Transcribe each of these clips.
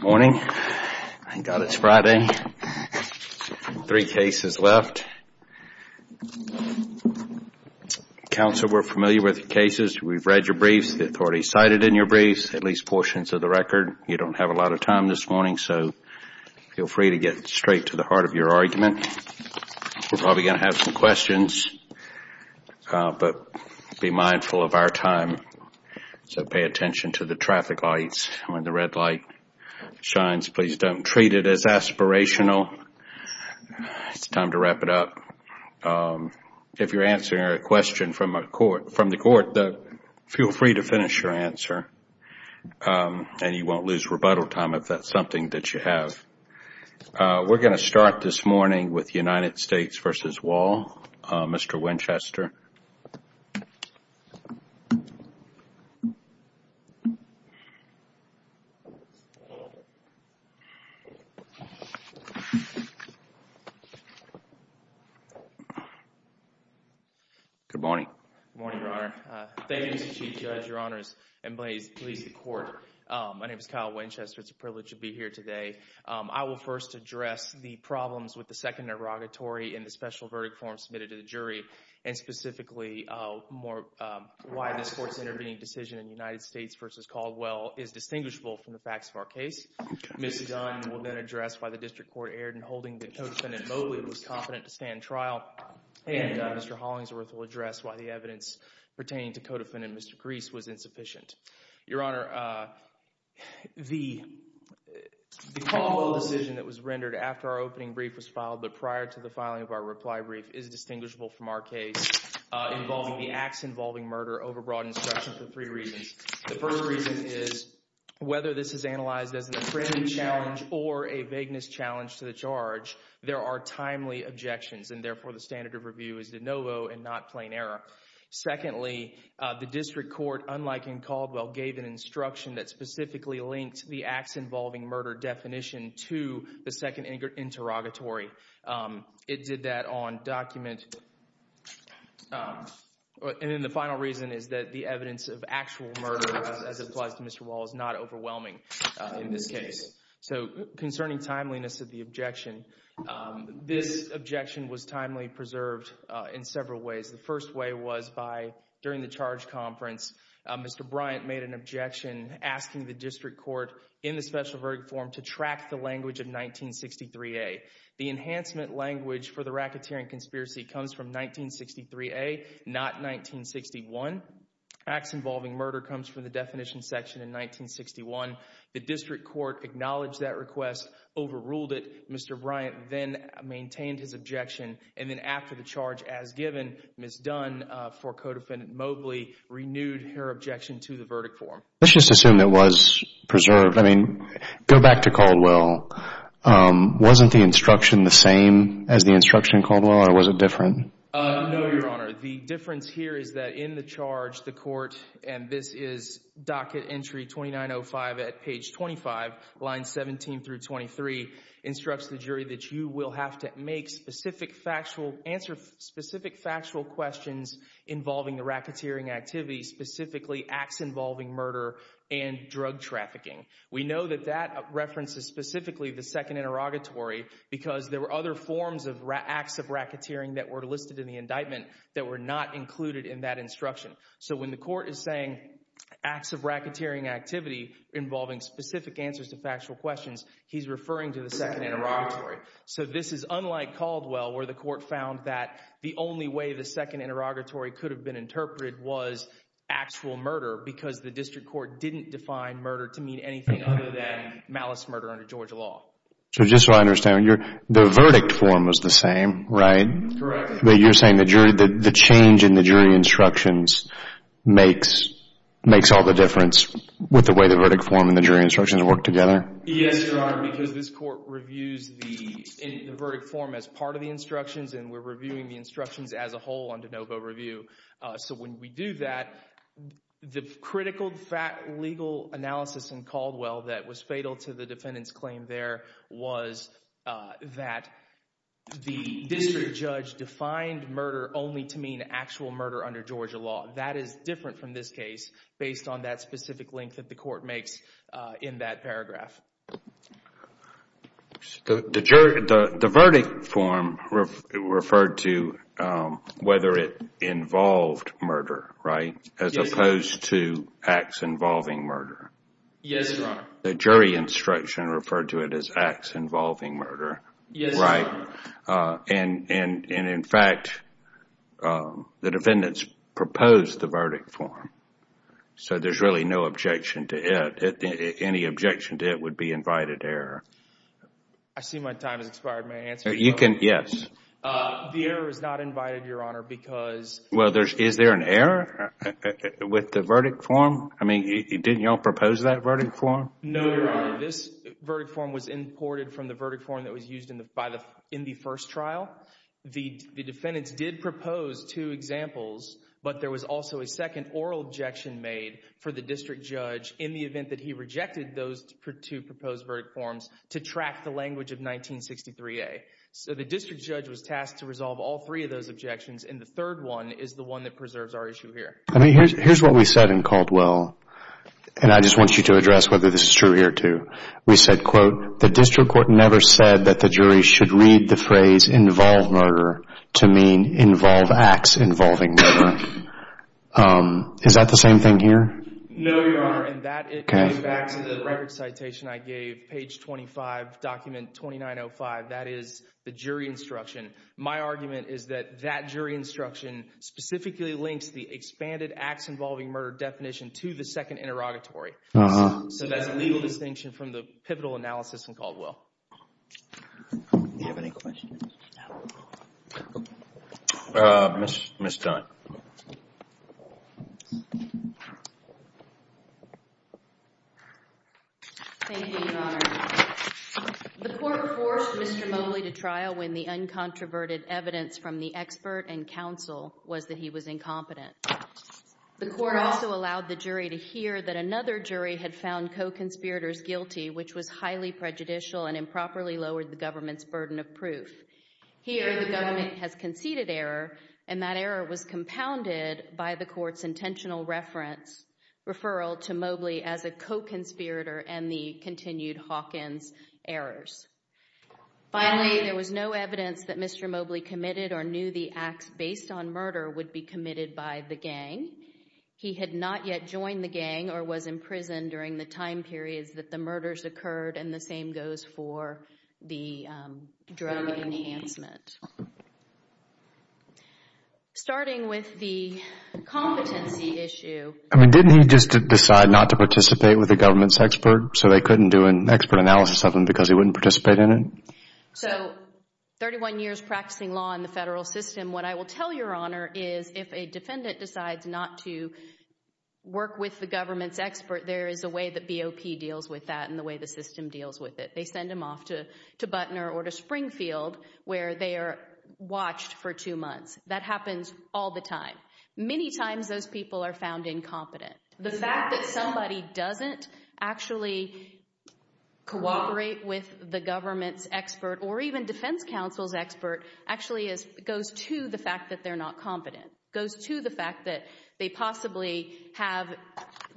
Morning. Thank God it's Friday. Three cases left. Counsel, we're familiar with your cases. We've read your briefs. The authorities cited in your briefs, at least portions of the record. You don't have a lot of time this morning, so feel free to get straight to the heart of your argument. We're probably going to have some questions. Be mindful of our time. Pay attention to the traffic lights. When the red light shines, please don't treat it as aspirational. It's time to wrap it up. If you're answering a question from the court, feel free to finish your answer. You won't lose rebuttal time if that's something that you have. We're going to start this morning with United States v. Wall. Mr. Winchester. Good morning. Good morning, Your Honor. Thank you, Mr. Chief Judge, Your Honors, and please please the court. My name is Kyle Winchester. It's a privilege to be here today. I will first address the problems with the second derogatory in the special verdict form submitted to the jury, and specifically why this court's intervening decision in United States v. Caldwell is distinguishable from the facts of our case. Ms. Dunn will then address why the district court erred in holding that Co-Defendant Mobley was confident to stand trial, and Mr. Hollingsworth will address why the evidence pertaining to Co-Defendant Mr. Grease was insufficient. Your Honor, the Caldwell decision that was rendered after our opening brief was filed, but prior to the filing of our reply brief, is distinguishable from our case involving the acts involving murder over broad instruction for three reasons. The first reason is whether this is analyzed as an affirmative challenge or a vagueness challenge to the charge, there are timely objections, and therefore the standard of review is de novo and not plain error. Secondly, the district court, unlike in Caldwell, gave an instruction that specifically linked the acts involving murder definition to the second interrogatory. It did that on document, and then the final reason is that the evidence of actual murder, as it applies to Mr. Wall, is not overwhelming in this case. So concerning timeliness of the objection, this objection was timely preserved in several ways. The first way was by, during the charge conference, Mr. Bryant made an objection asking the district court in the special verdict form to track the language of 1963A. The enhancement language for the racketeering conspiracy comes from 1963A, not 1961. Acts involving murder comes from the definition section in 1961. The district court acknowledged that request, overruled it. Mr. Bryant then maintained his objection, and then after the charge as given, Ms. Dunn, for Codefendant Mobley, renewed her objection to the verdict form. Let's just assume it was preserved. I mean, go back to Caldwell. Wasn't the instruction the same as the instruction in Caldwell, or was it different? No, Your Honor. The difference here is that in the charge, the court, and this is docket entry 2905 at page 25, lines 17 through 23, instructs the jury that you will have to make specific factual, answer specific factual questions involving the racketeering activity, specifically acts involving murder and drug trafficking. We know that that references specifically the second interrogatory because there were other forms of acts of racketeering that were listed in the indictment that were not included in that instruction. So when the court is saying acts of racketeering activity involving specific answers to factual questions, he's referring to the second interrogatory. So this is unlike Caldwell, where the court found that the only way the second interrogatory could have been interpreted was actual murder because the district court didn't define murder to mean anything other than malice murder under Georgia law. So just so I understand, the verdict form was the same, right? Correct. But you're saying the jury, the change in the jury instructions makes all the difference with the way the verdict form and the jury instructions work together? Yes, Your Honor, because this court reviews the verdict form as part of the instructions and we're reviewing the instructions as a whole on de novo review. So when we do that, the critical legal analysis in Caldwell that was fatal to the defendant's claim there was that the district judge defined murder only to mean actual murder under Georgia law. That is different from this case based on that specific link that the court makes in that paragraph. The verdict form referred to whether it involved murder, right, as opposed to acts involving murder. Yes, Your Honor. The jury instruction referred to it as acts involving murder, right. And in fact, the defendants proposed the verdict form. So there's really no objection to it. Any objection to the invited error? I see my time has expired. May I answer? You can, yes. The error is not invited, Your Honor, because... Well, is there an error with the verdict form? I mean, didn't you all propose that verdict form? No, Your Honor. This verdict form was imported from the verdict form that was used in the first trial. The defendants did propose two examples, but there was also a second oral objection made for the district judge in the event that he rejected those two proposed verdict forms to track the language of 1963A. So the district judge was tasked to resolve all three of those objections, and the third one is the one that preserves our issue here. I mean, here's what we said in Caldwell, and I just want you to address whether this is true here, too. We said, quote, the district court never said that the jury should read the phrase, involve murder, to mean involve acts involving murder. Is that the same thing here? No, Your Honor, and that, going back to the record citation I gave, page 25, document 2905, that is the jury instruction. My argument is that that jury instruction specifically links the expanded acts involving murder definition to the second interrogatory. So that's a legal distinction from the pivotal analysis in Caldwell. Do you have any questions? Ms. Stein. Thank you, Your Honor. The court forced Mr. Moley to trial when the uncontroverted evidence from the expert and counsel was that he was incompetent. The court also allowed the jury to hear that another jury had found co-conspirators guilty, which was highly prejudicial and properly lowered the government's burden of proof. Here, the government has conceded error, and that error was compounded by the court's intentional reference, referral to Mobley as a co-conspirator and the continued Hawkins errors. Finally, there was no evidence that Mr. Mobley committed or knew the acts based on murder would be committed by the gang. He had not yet joined the gang or was in prison during the time periods that the murders occurred, and the same goes for the drug enhancement. Starting with the competency issue... I mean, didn't he just decide not to participate with the government's expert so they couldn't do an expert analysis of him because he wouldn't participate in it? So, 31 years practicing law in the federal system, what I will tell Your Honor is if a defendant decides not to work with the government's expert, there is a way that BOP deals with that and the way the system deals with it. They send them off to Buttner or to Springfield where they are watched for two months. That happens all the time. Many times those people are found incompetent. The fact that somebody doesn't actually cooperate with the government's expert or even defense counsel's expert actually goes to the fact that they're not competent, goes to the fact that they possibly have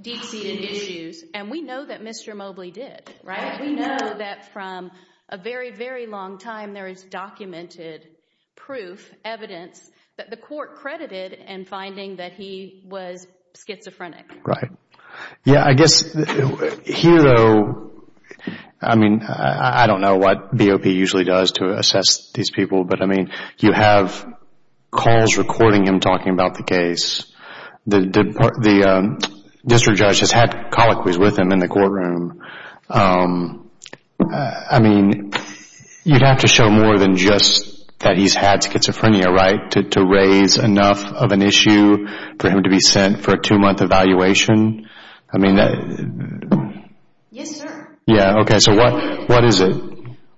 deep-seated issues, and we know that Mr. Mobley did, right? We know that from a very, very long time, there is documented proof, evidence that the court credited in finding that he was schizophrenic. Right. Yeah, I guess here though, I mean, I don't know what BOP usually does to assess these people, but I mean, you have calls recording him talking about the case. The district judge has had colloquies with him in the courtroom. I mean, you'd have to show more than just that he's had schizophrenia, right, to raise enough of an issue for him to be sent for a two-month evaluation. I mean... Yes, sir. Yeah, okay, so what is it?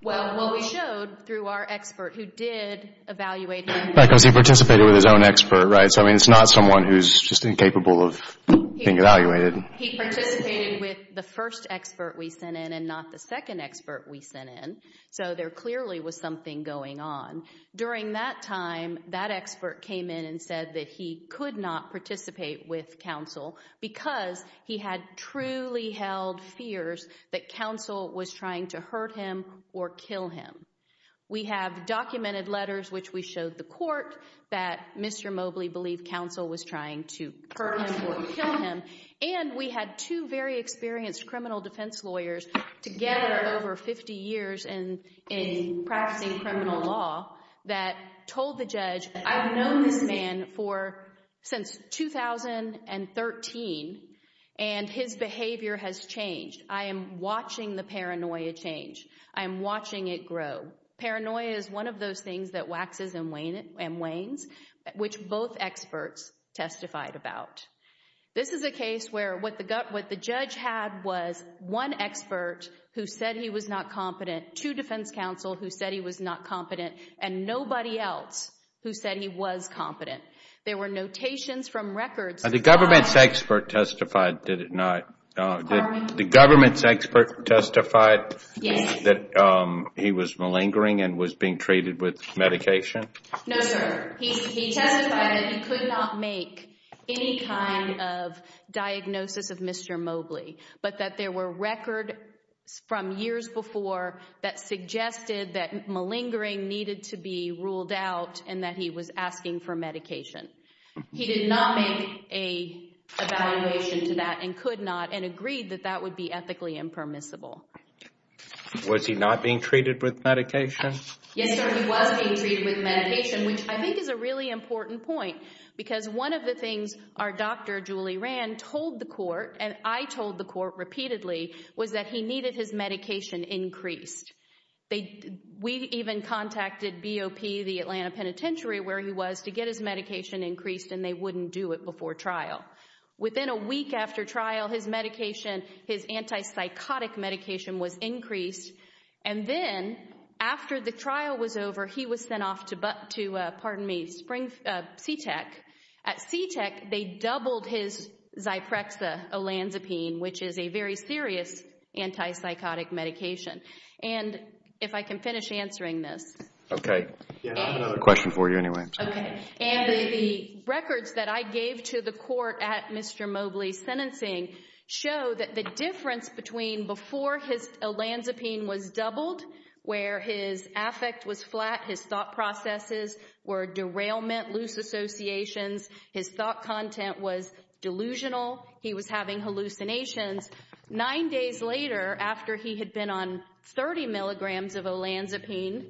Well, what we showed through our expert who did evaluate him... Right, because he participated with his own expert, right? So, I mean, it's not someone who's just incapable of being evaluated. He participated with the first expert we sent in and not the second expert we sent in. So, there clearly was something going on. During that time, that expert came in and said that he could not participate with counsel because he had truly held fears that counsel was trying to hurt him or kill him. We have documented letters which we showed the court that Mr. Mobley believed counsel was trying to hurt him or kill him, and we had two very experienced criminal defense lawyers together over 50 years in practicing criminal law that told the judge, I've known this man since 2013, and his behavior has changed. I am watching the paranoia change. I am watching it grow. Paranoia is one of those things that waxes and wanes, which both experts testified about. This is a case where what the judge had was one expert who said he was not competent, two defense counsel who said he was not competent, and nobody else who said he was competent. There were notations from records. The government's expert testified, did it not? The government's expert testified that he was malingering and was being treated with medication? No, sir. He testified that he could not make any kind of diagnosis of Mr. Mobley, but that there were records from years before that suggested that malingering needed to be ruled out and that he was asking for medication. He did not make an evaluation to that and could not and agreed that that would be ethically impermissible. Was he not being treated with medication? Yes, sir. He was being treated with medication, which I think is a really important point because one of the things our doctor, Julie Rand, told the court and I told the court repeatedly was that he needed his medication increased. We even contacted BOP, the Atlanta Penitentiary, where he was to get his medication increased and they wouldn't do it before trial. Within a week after trial, his medication, his antipsychotic medication was increased and then after the trial was over, he was sent off to CTECH. At CTECH, they doubled his Zyprexa olanzapine, which is a very serious antipsychotic medication. If I can finish answering this. Okay. I have another question for you anyway. The records that I gave to the court at Mr. Mobley's sentencing show that the difference between before his olanzapine was doubled, where his affect was flat, his thought processes were derailment, loose associations, his thought content was delusional, he was having hallucinations. Nine days later, after he had been on 30 milligrams of olanzapine,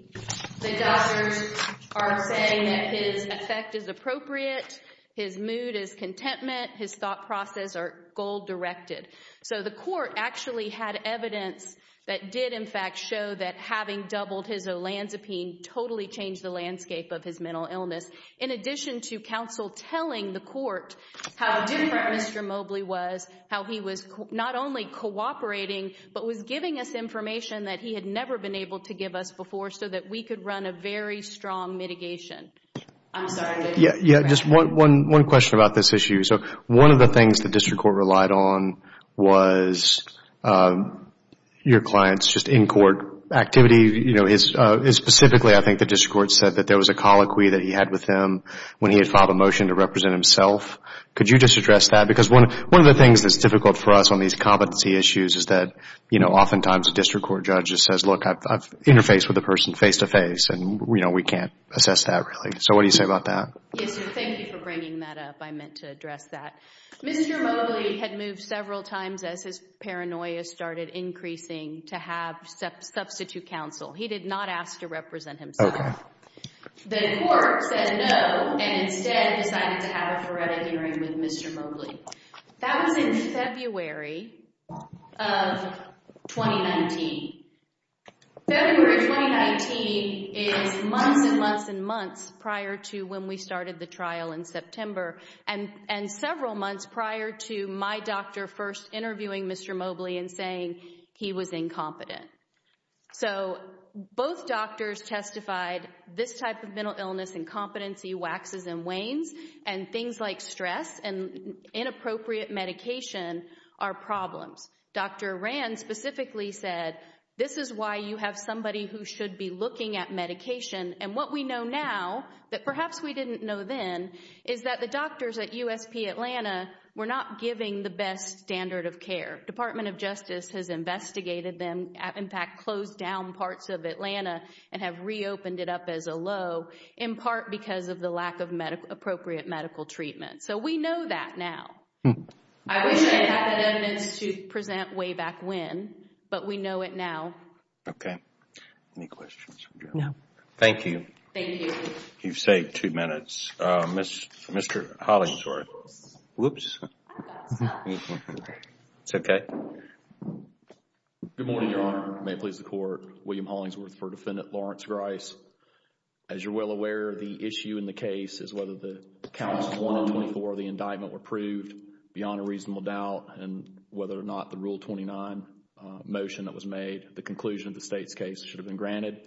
the doctors are saying that his affect is appropriate, his mood is contentment, his thought process are goal-directed. So the court actually had evidence that did in fact show that having doubled his olanzapine totally changed the landscape of his mental illness. In addition to counsel telling the court how different Mr. Mobley was, how he was not only cooperating, but was giving us information that he had never been able to give us before, so that we could run a very strong mitigation. I'm sorry. Yeah, just one question about this issue. So one of the things the district court relied on was your client's just in-court activity. Specifically, I think the district court said that there was a colloquy that he had with them when he had filed a motion to represent himself. Could you just address that? Because one of the things that's difficult for us on these competency issues is that oftentimes district court judges says, look, I've interfaced with a person face-to-face and we can't assess that really. So what do you say about that? Yes, sir. Thank you for bringing that up. I meant to address that. Mr. Mobley had moved several times as his paranoia started increasing to have substitute counsel. He did not ask to represent himself. The court said no, and instead decided to have a heretic in ring with Mr. Mobley. That was in February of 2019. February 2019 is months and months and months prior to when we started the trial in September, and several months prior to my doctor first interviewing Mr. Mobley and saying he was incompetent. So both doctors testified this type of mental illness, incompetency, waxes and wanes, and things like stress and inappropriate medication are problems. Dr. Rand specifically said, this is why you have somebody who should be looking at medication. And what we know now that perhaps we didn't know then is that the doctors at USP Atlanta were not giving the best standard of care. Department of Justice has investigated them, in fact, closed down parts of Atlanta and have reopened it up as a low in part because of the lack of medical appropriate medical treatment. So we know that now. I wish I had the evidence to present way back when, but we know it now. Okay. Any questions? No. Thank you. Thank you. You've saved two minutes. Mr. Hollingsworth. Oops. It's okay. Good morning, Your Honor. May it please the Court. William Hollingsworth for Defendant Lawrence Grice. As you're well aware, the issue in the case is whether the counts of 1 and 24 of the indictment were proved beyond a reasonable doubt and whether or not the Article 29 motion that was made, the conclusion of the State's case, should have been granted.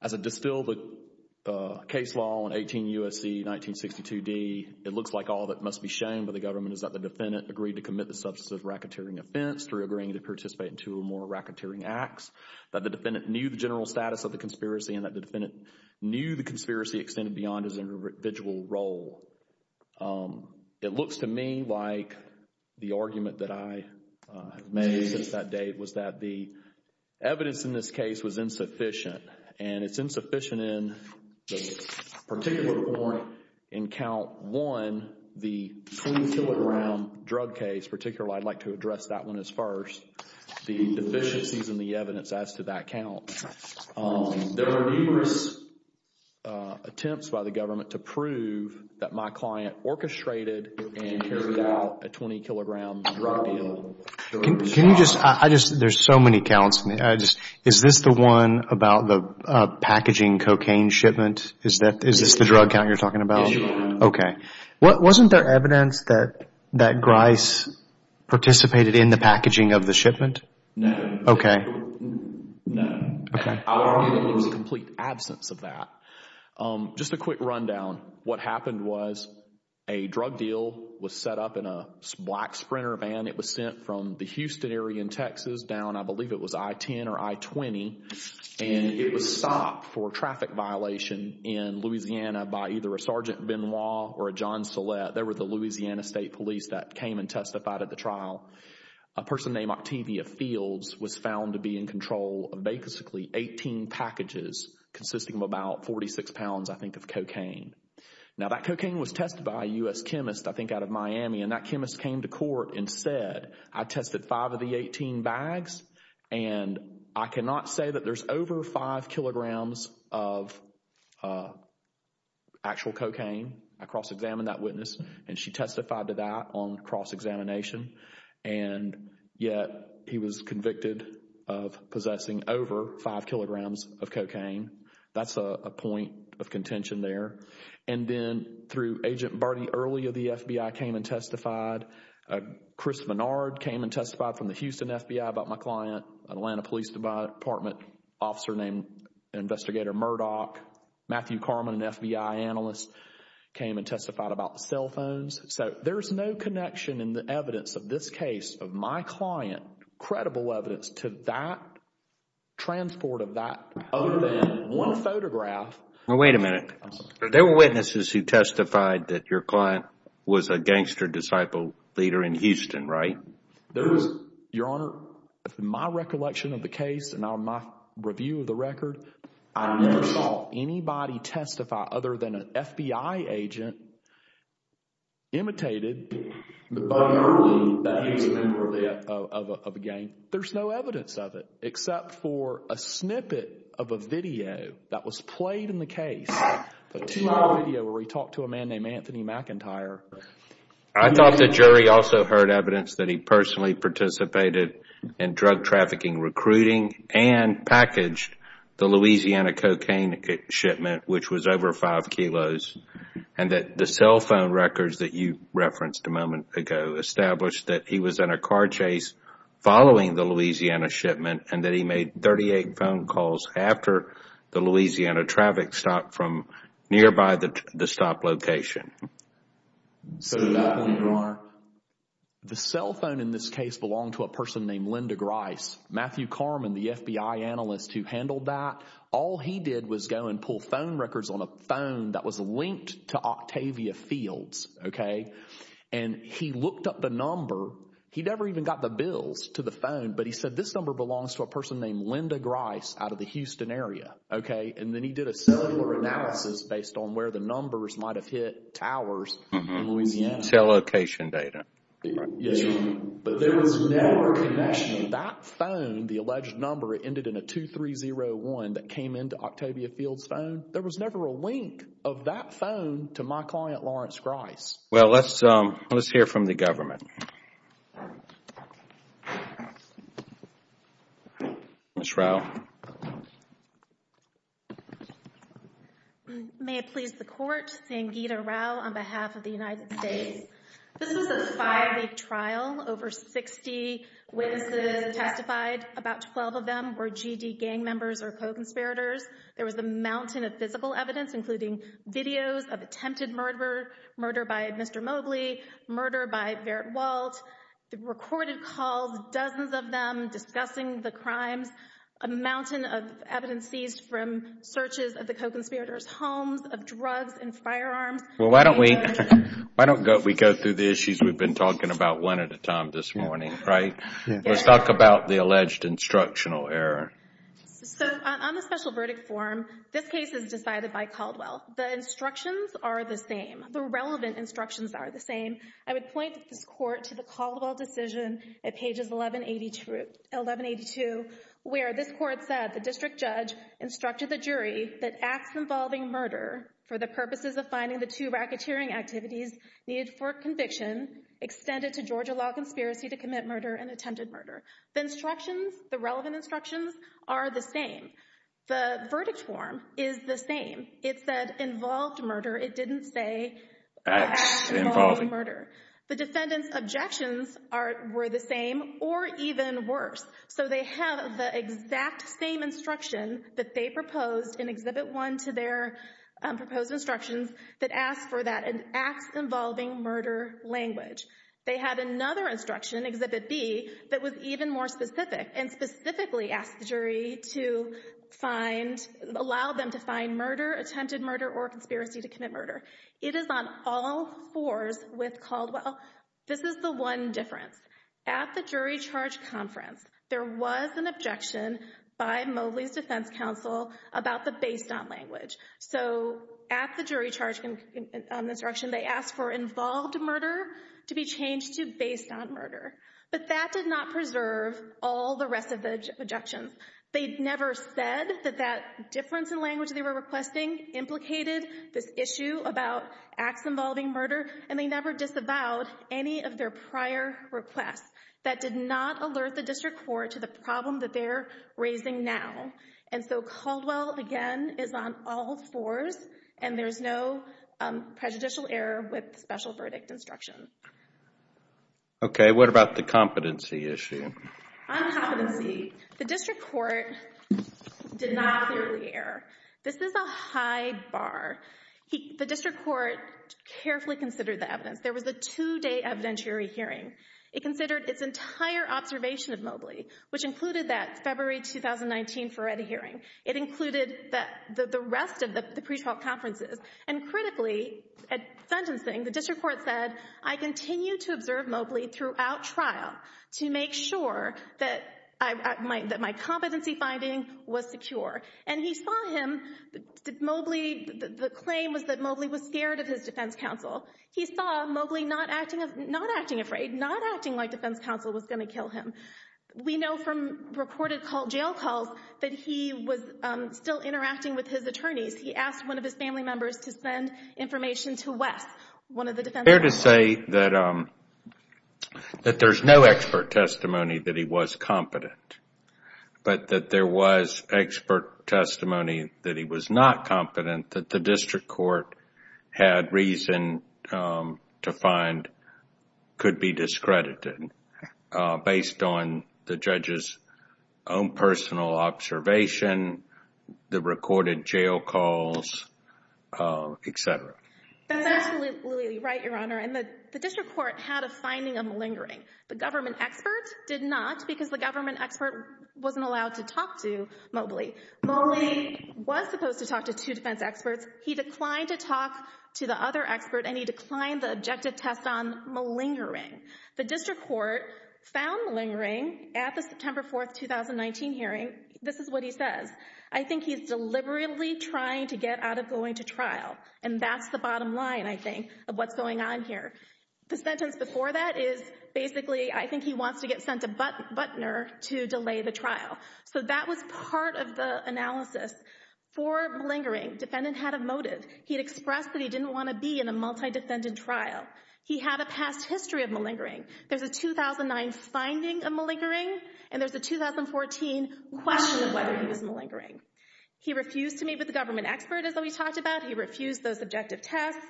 As I distill the case law in 18 U.S.C. 1962d, it looks like all that must be shown by the government is that the defendant agreed to commit the substance of racketeering offense through agreeing to participate in two or more racketeering acts, that the defendant knew the general status of the conspiracy and that the defendant knew the conspiracy extended beyond his individual role. It looks to me like the argument that I have made since that date was that the evidence in this case was insufficient, and it's insufficient in the particular point in Count 1, the 20 kilogram drug case, particularly I'd like to address that one as first, the deficiencies in the evidence as to that count. There were numerous attempts by the government to prove that my client orchestrated and carried out a 20 kilogram drug deal. There's so many counts. Is this the one about the packaging cocaine shipment? Is this the drug count you're talking about? Yes, Your Honor. Okay. Wasn't there evidence that Grice participated in the packaging of the shipment? No. Okay. No. Okay. I'll argue that there was a complete absence of that. Just a quick rundown. What happened was a drug deal was set up in a black Sprinter van. It was sent from the Houston area in Texas down, I believe it was I-10 or I-20, and it was stopped for traffic violation in Louisiana by either a Sergeant Benoit or a John Silette. They were the Louisiana State police that came and testified at the trial. A person named Octavia Fields was found to be in control of basically 18 packages consisting of about 46 pounds, I think, of cocaine. Now that cocaine was tested by a U.S. chemist, I think out of Miami, and that chemist came to court and said, I tested five of the 18 bags and I cannot say that there's over five kilograms of actual cocaine. I cross-examined that witness and she testified to that on cross-examination, and yet he was convicted of possessing over five kilograms of cocaine. That's a point of contention there. And then through Agent Barty, earlier the FBI came and testified. Chris Menard came and testified from the Houston FBI about my client, an Atlanta Police Department officer named Investigator Murdoch. Matthew Carman, an FBI analyst, came and testified about the cell phones. So there's no connection in the evidence of this case of my client, credible evidence, to that transport of that other than one photograph. Now, wait a minute. There were witnesses who testified that your client was a gangster disciple leader in Houston, right? There was, Your Honor, in my recollection of the case and on my review of the record, I never saw anybody testify other than an FBI agent imitated the Buddy Hurley that he was a member of a gang. There's no evidence of it except for a snippet of a video that was played in the case, a two-minute video where he talked to a man named Anthony McIntyre. I thought the jury also heard evidence that he personally participated in drug trafficking recruiting and packaged the Louisiana cocaine shipment, which was over five kilos, and that the cell phone records that you referenced a moment ago established that he was in a car chase following the Louisiana shipment and that he made 38 phone calls after the Louisiana traffic stopped from nearby the stop location. So did I, Your Honor. The cell phone in this case belonged to a person named Linda Grice. Matthew Carman, the FBI analyst who handled that, all he did was go and pull phone records on a phone that was linked to Octavia Fields, okay? And he looked up the number. He never even got the bills to the phone, but he said this number belongs to a person named Linda Grice out of the Houston area, okay? And then he did a cellular analysis based on where the numbers might have hit towers in Louisiana. Cell location data. But there was never a connection. That phone, the alleged number, ended in a 2301 that came into Octavia Fields' phone. There was never a link of that phone to my client, Lawrence Grice. Well, let's hear from the government. Ms. Rowe. Thank you, Your Honor. May it please the Court, Sangita Rowe on behalf of the United States. This was a five-week trial. Over 60 witnesses testified. About 12 of them were GD gang members or co-conspirators. There was a mountain of physical evidence, including videos of attempted murder, murder by Mr. Mobley, murder by Verrett Walt. The recorded calls, dozens of them discussing the crimes. A mountain of evidence seized from searches of the co-conspirators' homes of drugs and firearms. Well, why don't we go through the issues we've been talking about one at a time this morning, right? Let's talk about the alleged instructional error. So on the special verdict form, this case is decided by Caldwell. The instructions are the same. The relevant instructions are the same. I would point this Court to the Caldwell decision at pages 1182, where this Court said the district judge instructed the jury that acts involving murder for the purposes of finding the two racketeering activities needed for conviction extended to Georgia law conspiracy to commit murder and attempted murder. The instructions, the relevant instructions are the same. The verdict form is the same. It said involved murder. It didn't say acts involving murder. The defendant's objections were the same or even worse. So they have the exact same instruction that they proposed in Exhibit 1 to their proposed instructions that asked for that acts involving murder language. They had another instruction, Exhibit B, that was even more specific and specifically asked the jury to allow them to find attempted murder or conspiracy to commit murder. It is on all fours with Caldwell. This is the one difference. At the jury charge conference, there was an objection by Mobley's defense counsel about the based on language. So at the jury charge instruction, they asked for involved murder to be changed to based on murder. But that did not preserve all the rest of the objections. They never said that that difference in language they were requesting implicated this issue about acts involving murder and they never disavowed any of their prior requests. That did not alert the district court to the problem that they're raising now. And so Caldwell, again, is on all fours and there's no prejudicial error with special verdict instructions. Okay. What about the competency issue? On competency, the district court did not clearly err. This is a high bar. The district court carefully considered the evidence. There was a two-day evidentiary hearing. It considered its entire observation of Mobley, which included that February 2019 Ferretti hearing. It included the rest of the pretrial conferences. And critically, at sentencing, the district court said, I continue to observe Mobley throughout trial to make sure that my competency finding was secure. And he saw him, Mobley, the claim was that Mobley was scared of his defense counsel. He saw Mobley not acting afraid, not acting like defense counsel was going to kill him. We know from reported jail calls that he was still interacting with his attorneys. He asked one of his family that there's no expert testimony that he was competent, but that there was expert testimony that he was not competent, that the district court had reason to find could be discredited based on the judge's own personal observation, the recorded jail calls, et cetera. That's absolutely right, Your Honor. And the district court had a finding of malingering. The government expert did not because the government expert wasn't allowed to talk to Mobley. Mobley was supposed to talk to two defense experts. He declined to talk to the other expert and he declined the objective test on malingering. The district court found malingering at the September 4th, 2019 hearing. This is what he says. I think he's deliberately trying to get out of trial. And that's the bottom line, I think, of what's going on here. The sentence before that is basically, I think he wants to get sent a buttoner to delay the trial. So that was part of the analysis. For malingering, defendant had a motive. He had expressed that he didn't want to be in a multi-defendant trial. He had a past history of malingering. There's a 2009 finding of malingering and there's a 2014 question of whether he was malingering. He refused to meet with the government expert, as we talked about. He refused those objective tests.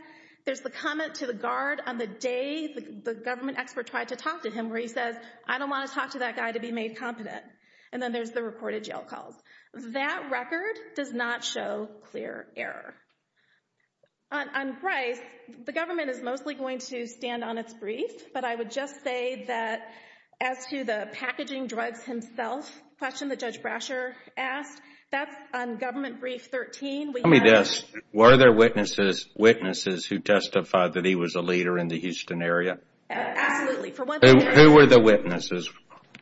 There's the comment to the guard on the day the government expert tried to talk to him, where he says, I don't want to talk to that guy to be made competent. And then there's the recorded jail calls. That record does not show clear error. On Bryce, the government is mostly going to stand on its brief, but I would just say that as to the packaging drugs himself question that Judge Brasher asked, that's on government brief 13. Tell me this, were there witnesses who testified that he was a leader in the Houston area? Absolutely. Who were the witnesses?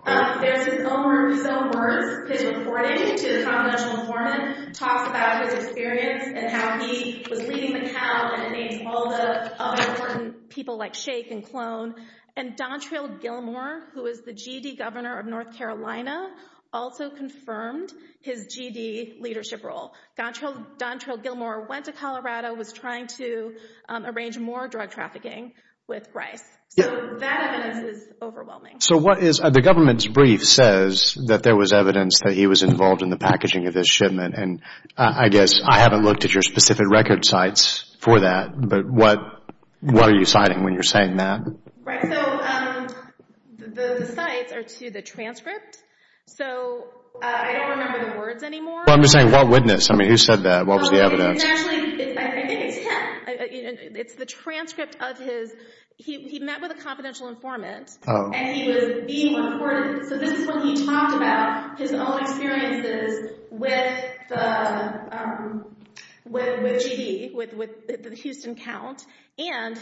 There's his own words. His reporting to the confidential informant talks about his experience and how he was leading the count and names all the important people like Shake and Clone. And Dontrell Gilmore, who is the G.D. governor of North Carolina, also confirmed his G.D. leadership role. Dontrell Gilmore went to Colorado, was trying to arrange more drug trafficking with Bryce. So that evidence is overwhelming. So what is, the government's brief says that there was evidence that he was involved in the packaging of this shipment, and I guess I haven't looked at your specific record sites for that, but what are you citing when you're saying that? Right, so the sites are to the transcript. So I don't remember the words anymore. Well, I'm just saying what witness? I mean, who said that? What was the evidence? It's actually, I think it's him. It's the transcript of his, he met with a confidential informant, and he was being reported. So this is when he talked about his own experiences with the G.D., with the Houston count, and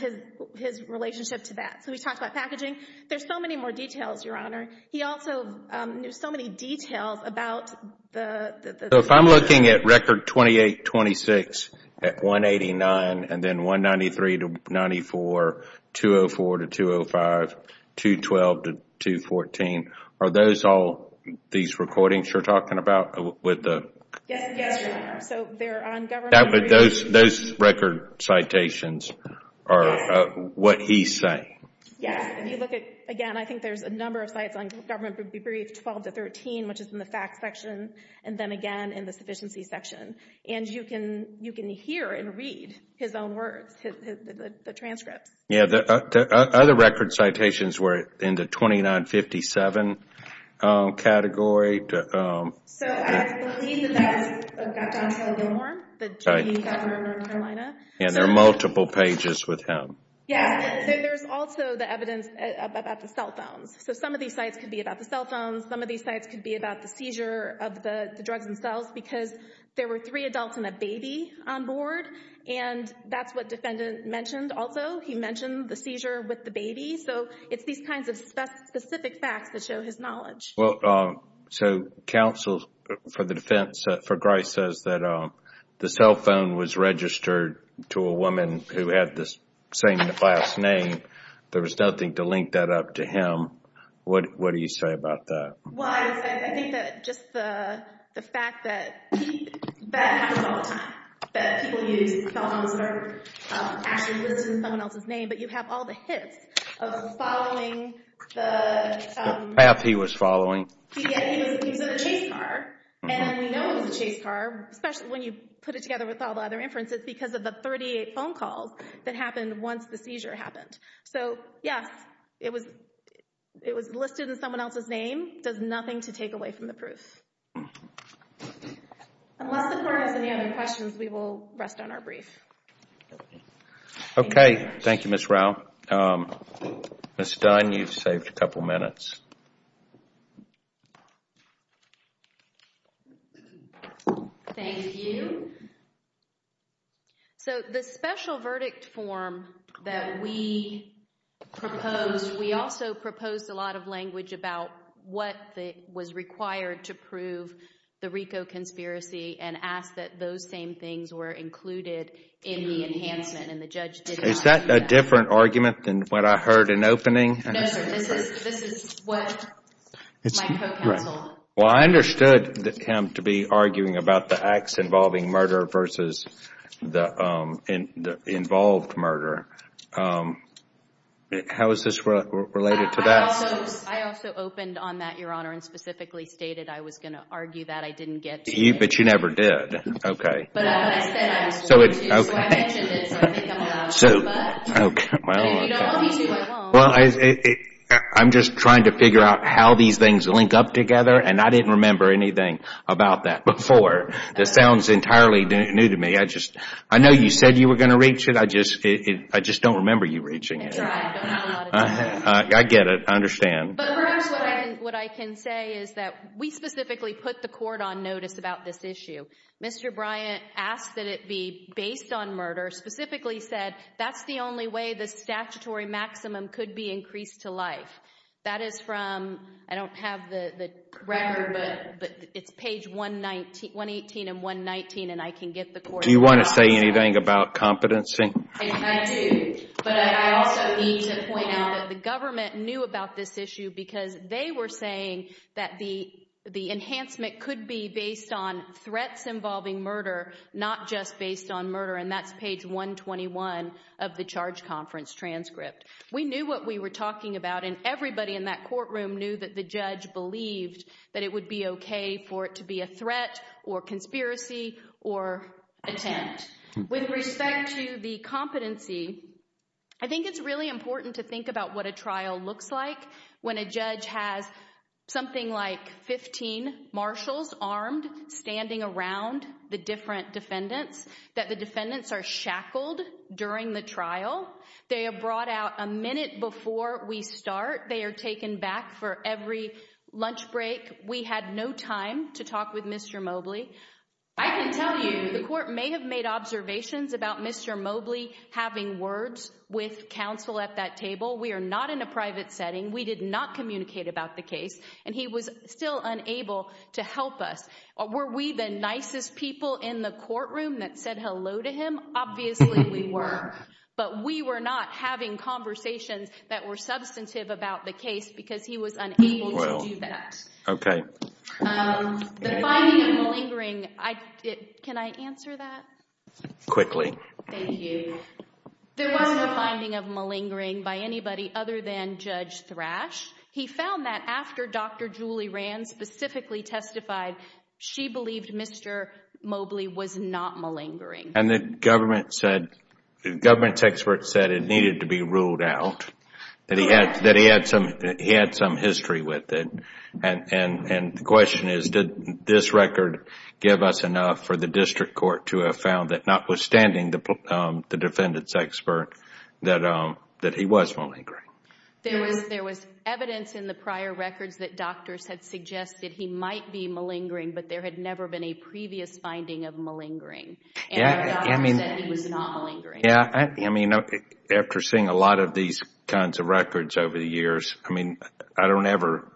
his relationship to that. So he talked about packaging. There's so many more details, Your Honor. He also knew so many details about the... So if I'm looking at record 2826, at 189, and then 193 to 94, 204 to 205, 212 to 214, are those all these recordings you're talking about with the... Yes, Your Honor. So they're on government briefs. Those record citations are what he's saying. Yes, if you look at, again, I think there's a number of sites on government brief 12 to 13, which is in the facts section, and then again in the sufficiency section. And you can hear and read his own words, the transcripts. Other record citations were in the 2957 category. So I believe that that's Don Taylor Gilmore, the G.D. governor of North Carolina. And there are multiple pages with him. Yes, there's also the evidence about the cell phones. So some of these sites could be about the cell phones. Some of these sites could be about the seizure of the drugs themselves, because there were three adults and a baby on board. And that's what the defendant mentioned also. He mentioned the seizure with the baby. So it's these kinds of specific facts that show his knowledge. Well, so counsel for the defense for Grice says that the cell phone was registered to a woman who had the same last name. There was nothing to link that up to him. What do you say about that? Well, I think that just the fact that people use cell phones are actually listed in someone else's name, but you have all the hits of following the... The path he was following. He was in a chase car. And we know it was a chase car, especially when you put it together with all the other inferences, because of the 38 phone calls that happened once the seizure happened. So yes, it was listed in someone else's name. Does nothing to take away from the proof. Unless the court has any other questions, we will rest on our brief. Okay. Thank you, Ms. Rao. Ms. Dunn, you've saved a couple minutes. Thank you. So the special verdict form that we proposed, we also proposed a lot of language about what was required to prove the RICO conspiracy and asked that those same things were included in the enhancement, and the judge did not... Is that a different argument than what I heard in opening? No, sir. This is what my co-counsel... Well, I understood him to be arguing about the acts involving murder versus the involved murder. How is this related to that? I also opened on that, Your Honor, and specifically stated I was going to argue that I didn't get to... But you never did. Okay. But I said I was going to, so I mentioned it, so I think I'm allowed to, but if you don't want me to, I won't. Well, I'm just trying to figure out how these things link up together, and I didn't remember anything about that before. This sounds entirely new to me. I know you said you were going to reach it. I just don't remember you reaching it. That's right. I don't have a lot of time. I get it. I understand. But perhaps what I can say is that we specifically put the court on notice about this issue. Mr. Bryant asked that it be based on murder, specifically said that's the only way the statutory maximum could be increased to life. That is from... I don't have the record, but it's page 118 and 119, and I can get the court... Do you want to say anything about competency? I do, but I also need to point out that the government knew about this issue because they were saying that the enhancement could be based on threats involving murder, not just based on murder, and that's page 121 of the charge conference transcript. We knew what we were talking about, and everybody in that courtroom knew that the judge believed that it would be okay for it to be a threat or conspiracy or attempt. With respect to the competency, I think it's really important to think about what a trial looks like when a judge has something like 15 marshals armed standing around the different defendants, that the defendants are shackled during the trial. They are brought out a minute before we start. They are taken back for every lunch break. We had no time to talk with Mr. Mobley. I can tell you the court may have made observations about Mr. Mobley having words with counsel at that table. We are not in a private setting. We did not communicate about the case, and he was still unable to help us. Were we the nicest people in the courtroom that said hello to him? Obviously, we were, but we were not having conversations that were substantive about the case because he was unable to do that. Okay. The finding of malingering... Can I answer that? Quickly. Thank you. There was no finding of malingering by anybody other than Judge Thrash. He found that after Dr. Julie Rand specifically testified, she believed Mr. Mobley was not malingering. The government's expert said it needed to be ruled out, that he had some history with it. The question is, did this record give us enough for the district court to have found that notwithstanding the defendant's expert, that he was malingering? There was evidence in the prior records that doctors had suggested he might be malingering, but there had never been a previous finding of malingering. I mean, after seeing a lot of these kinds of records over the years, I mean, I don't ever...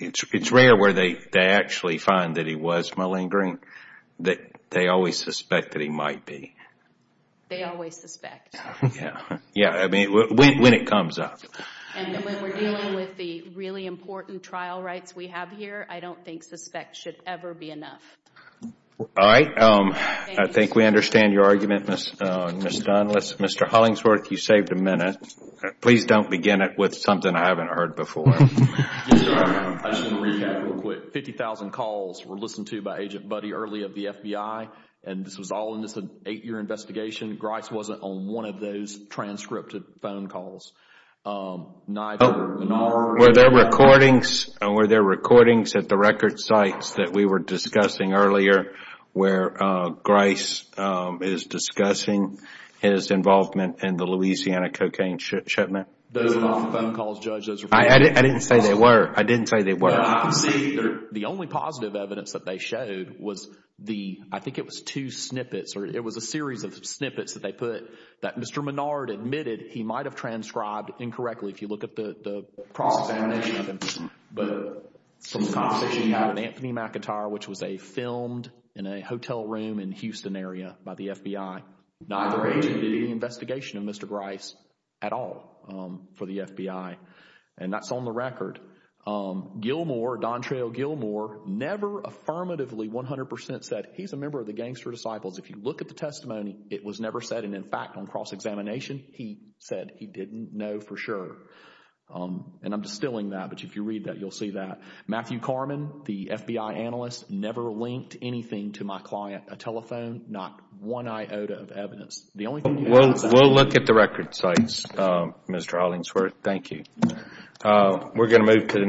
It's rare where they actually find that he was malingering. They always suspect that he might be. They always suspect. Yeah. I mean, when it comes up. And when we're dealing with the really important trial rights we have here, I don't think suspect should ever be enough. All right. I think we understand your argument, Ms. Dunn. Mr. Hollingsworth, you saved a minute. Please don't begin it with something I haven't heard before. I just want to recap real quick. 50,000 calls were listened to by Agent Buddy early of the FBI, and this was all in this eight-year investigation. Grice wasn't on one of those transcripted phone calls. Were there recordings at the record sites that we were discussing earlier where Grice is discussing his involvement in the Louisiana cocaine shipment? Those were not phone calls, Judge. I didn't say they were. I didn't say they were. The only positive evidence that they showed was the, I think it was two snippets, or it was a series of snippets that they put that Mr. Menard admitted he might have transcribed incorrectly if you look at the cross-examination of him. But from the conversation he had with Anthony McIntyre, which was filmed in a hotel room in Houston area by the FBI, neither agent did any investigation of Mr. Grice at all for the FBI. And that's on the record. Gilmour, Dontreau Gilmour, never affirmatively 100 percent said he's a member of the Gangster Disciples. If you look at the testimony, it was never said. And in fact, on cross-examination, he said he didn't know for sure. And I'm distilling that, but if you read that, you'll see that. Matthew Carman, the FBI analyst, never linked anything to my client. A telephone, not one iota of evidence. We'll look at the record sites, Mr. Hollingsworth. Thank you. Uh, we're going to move to the next.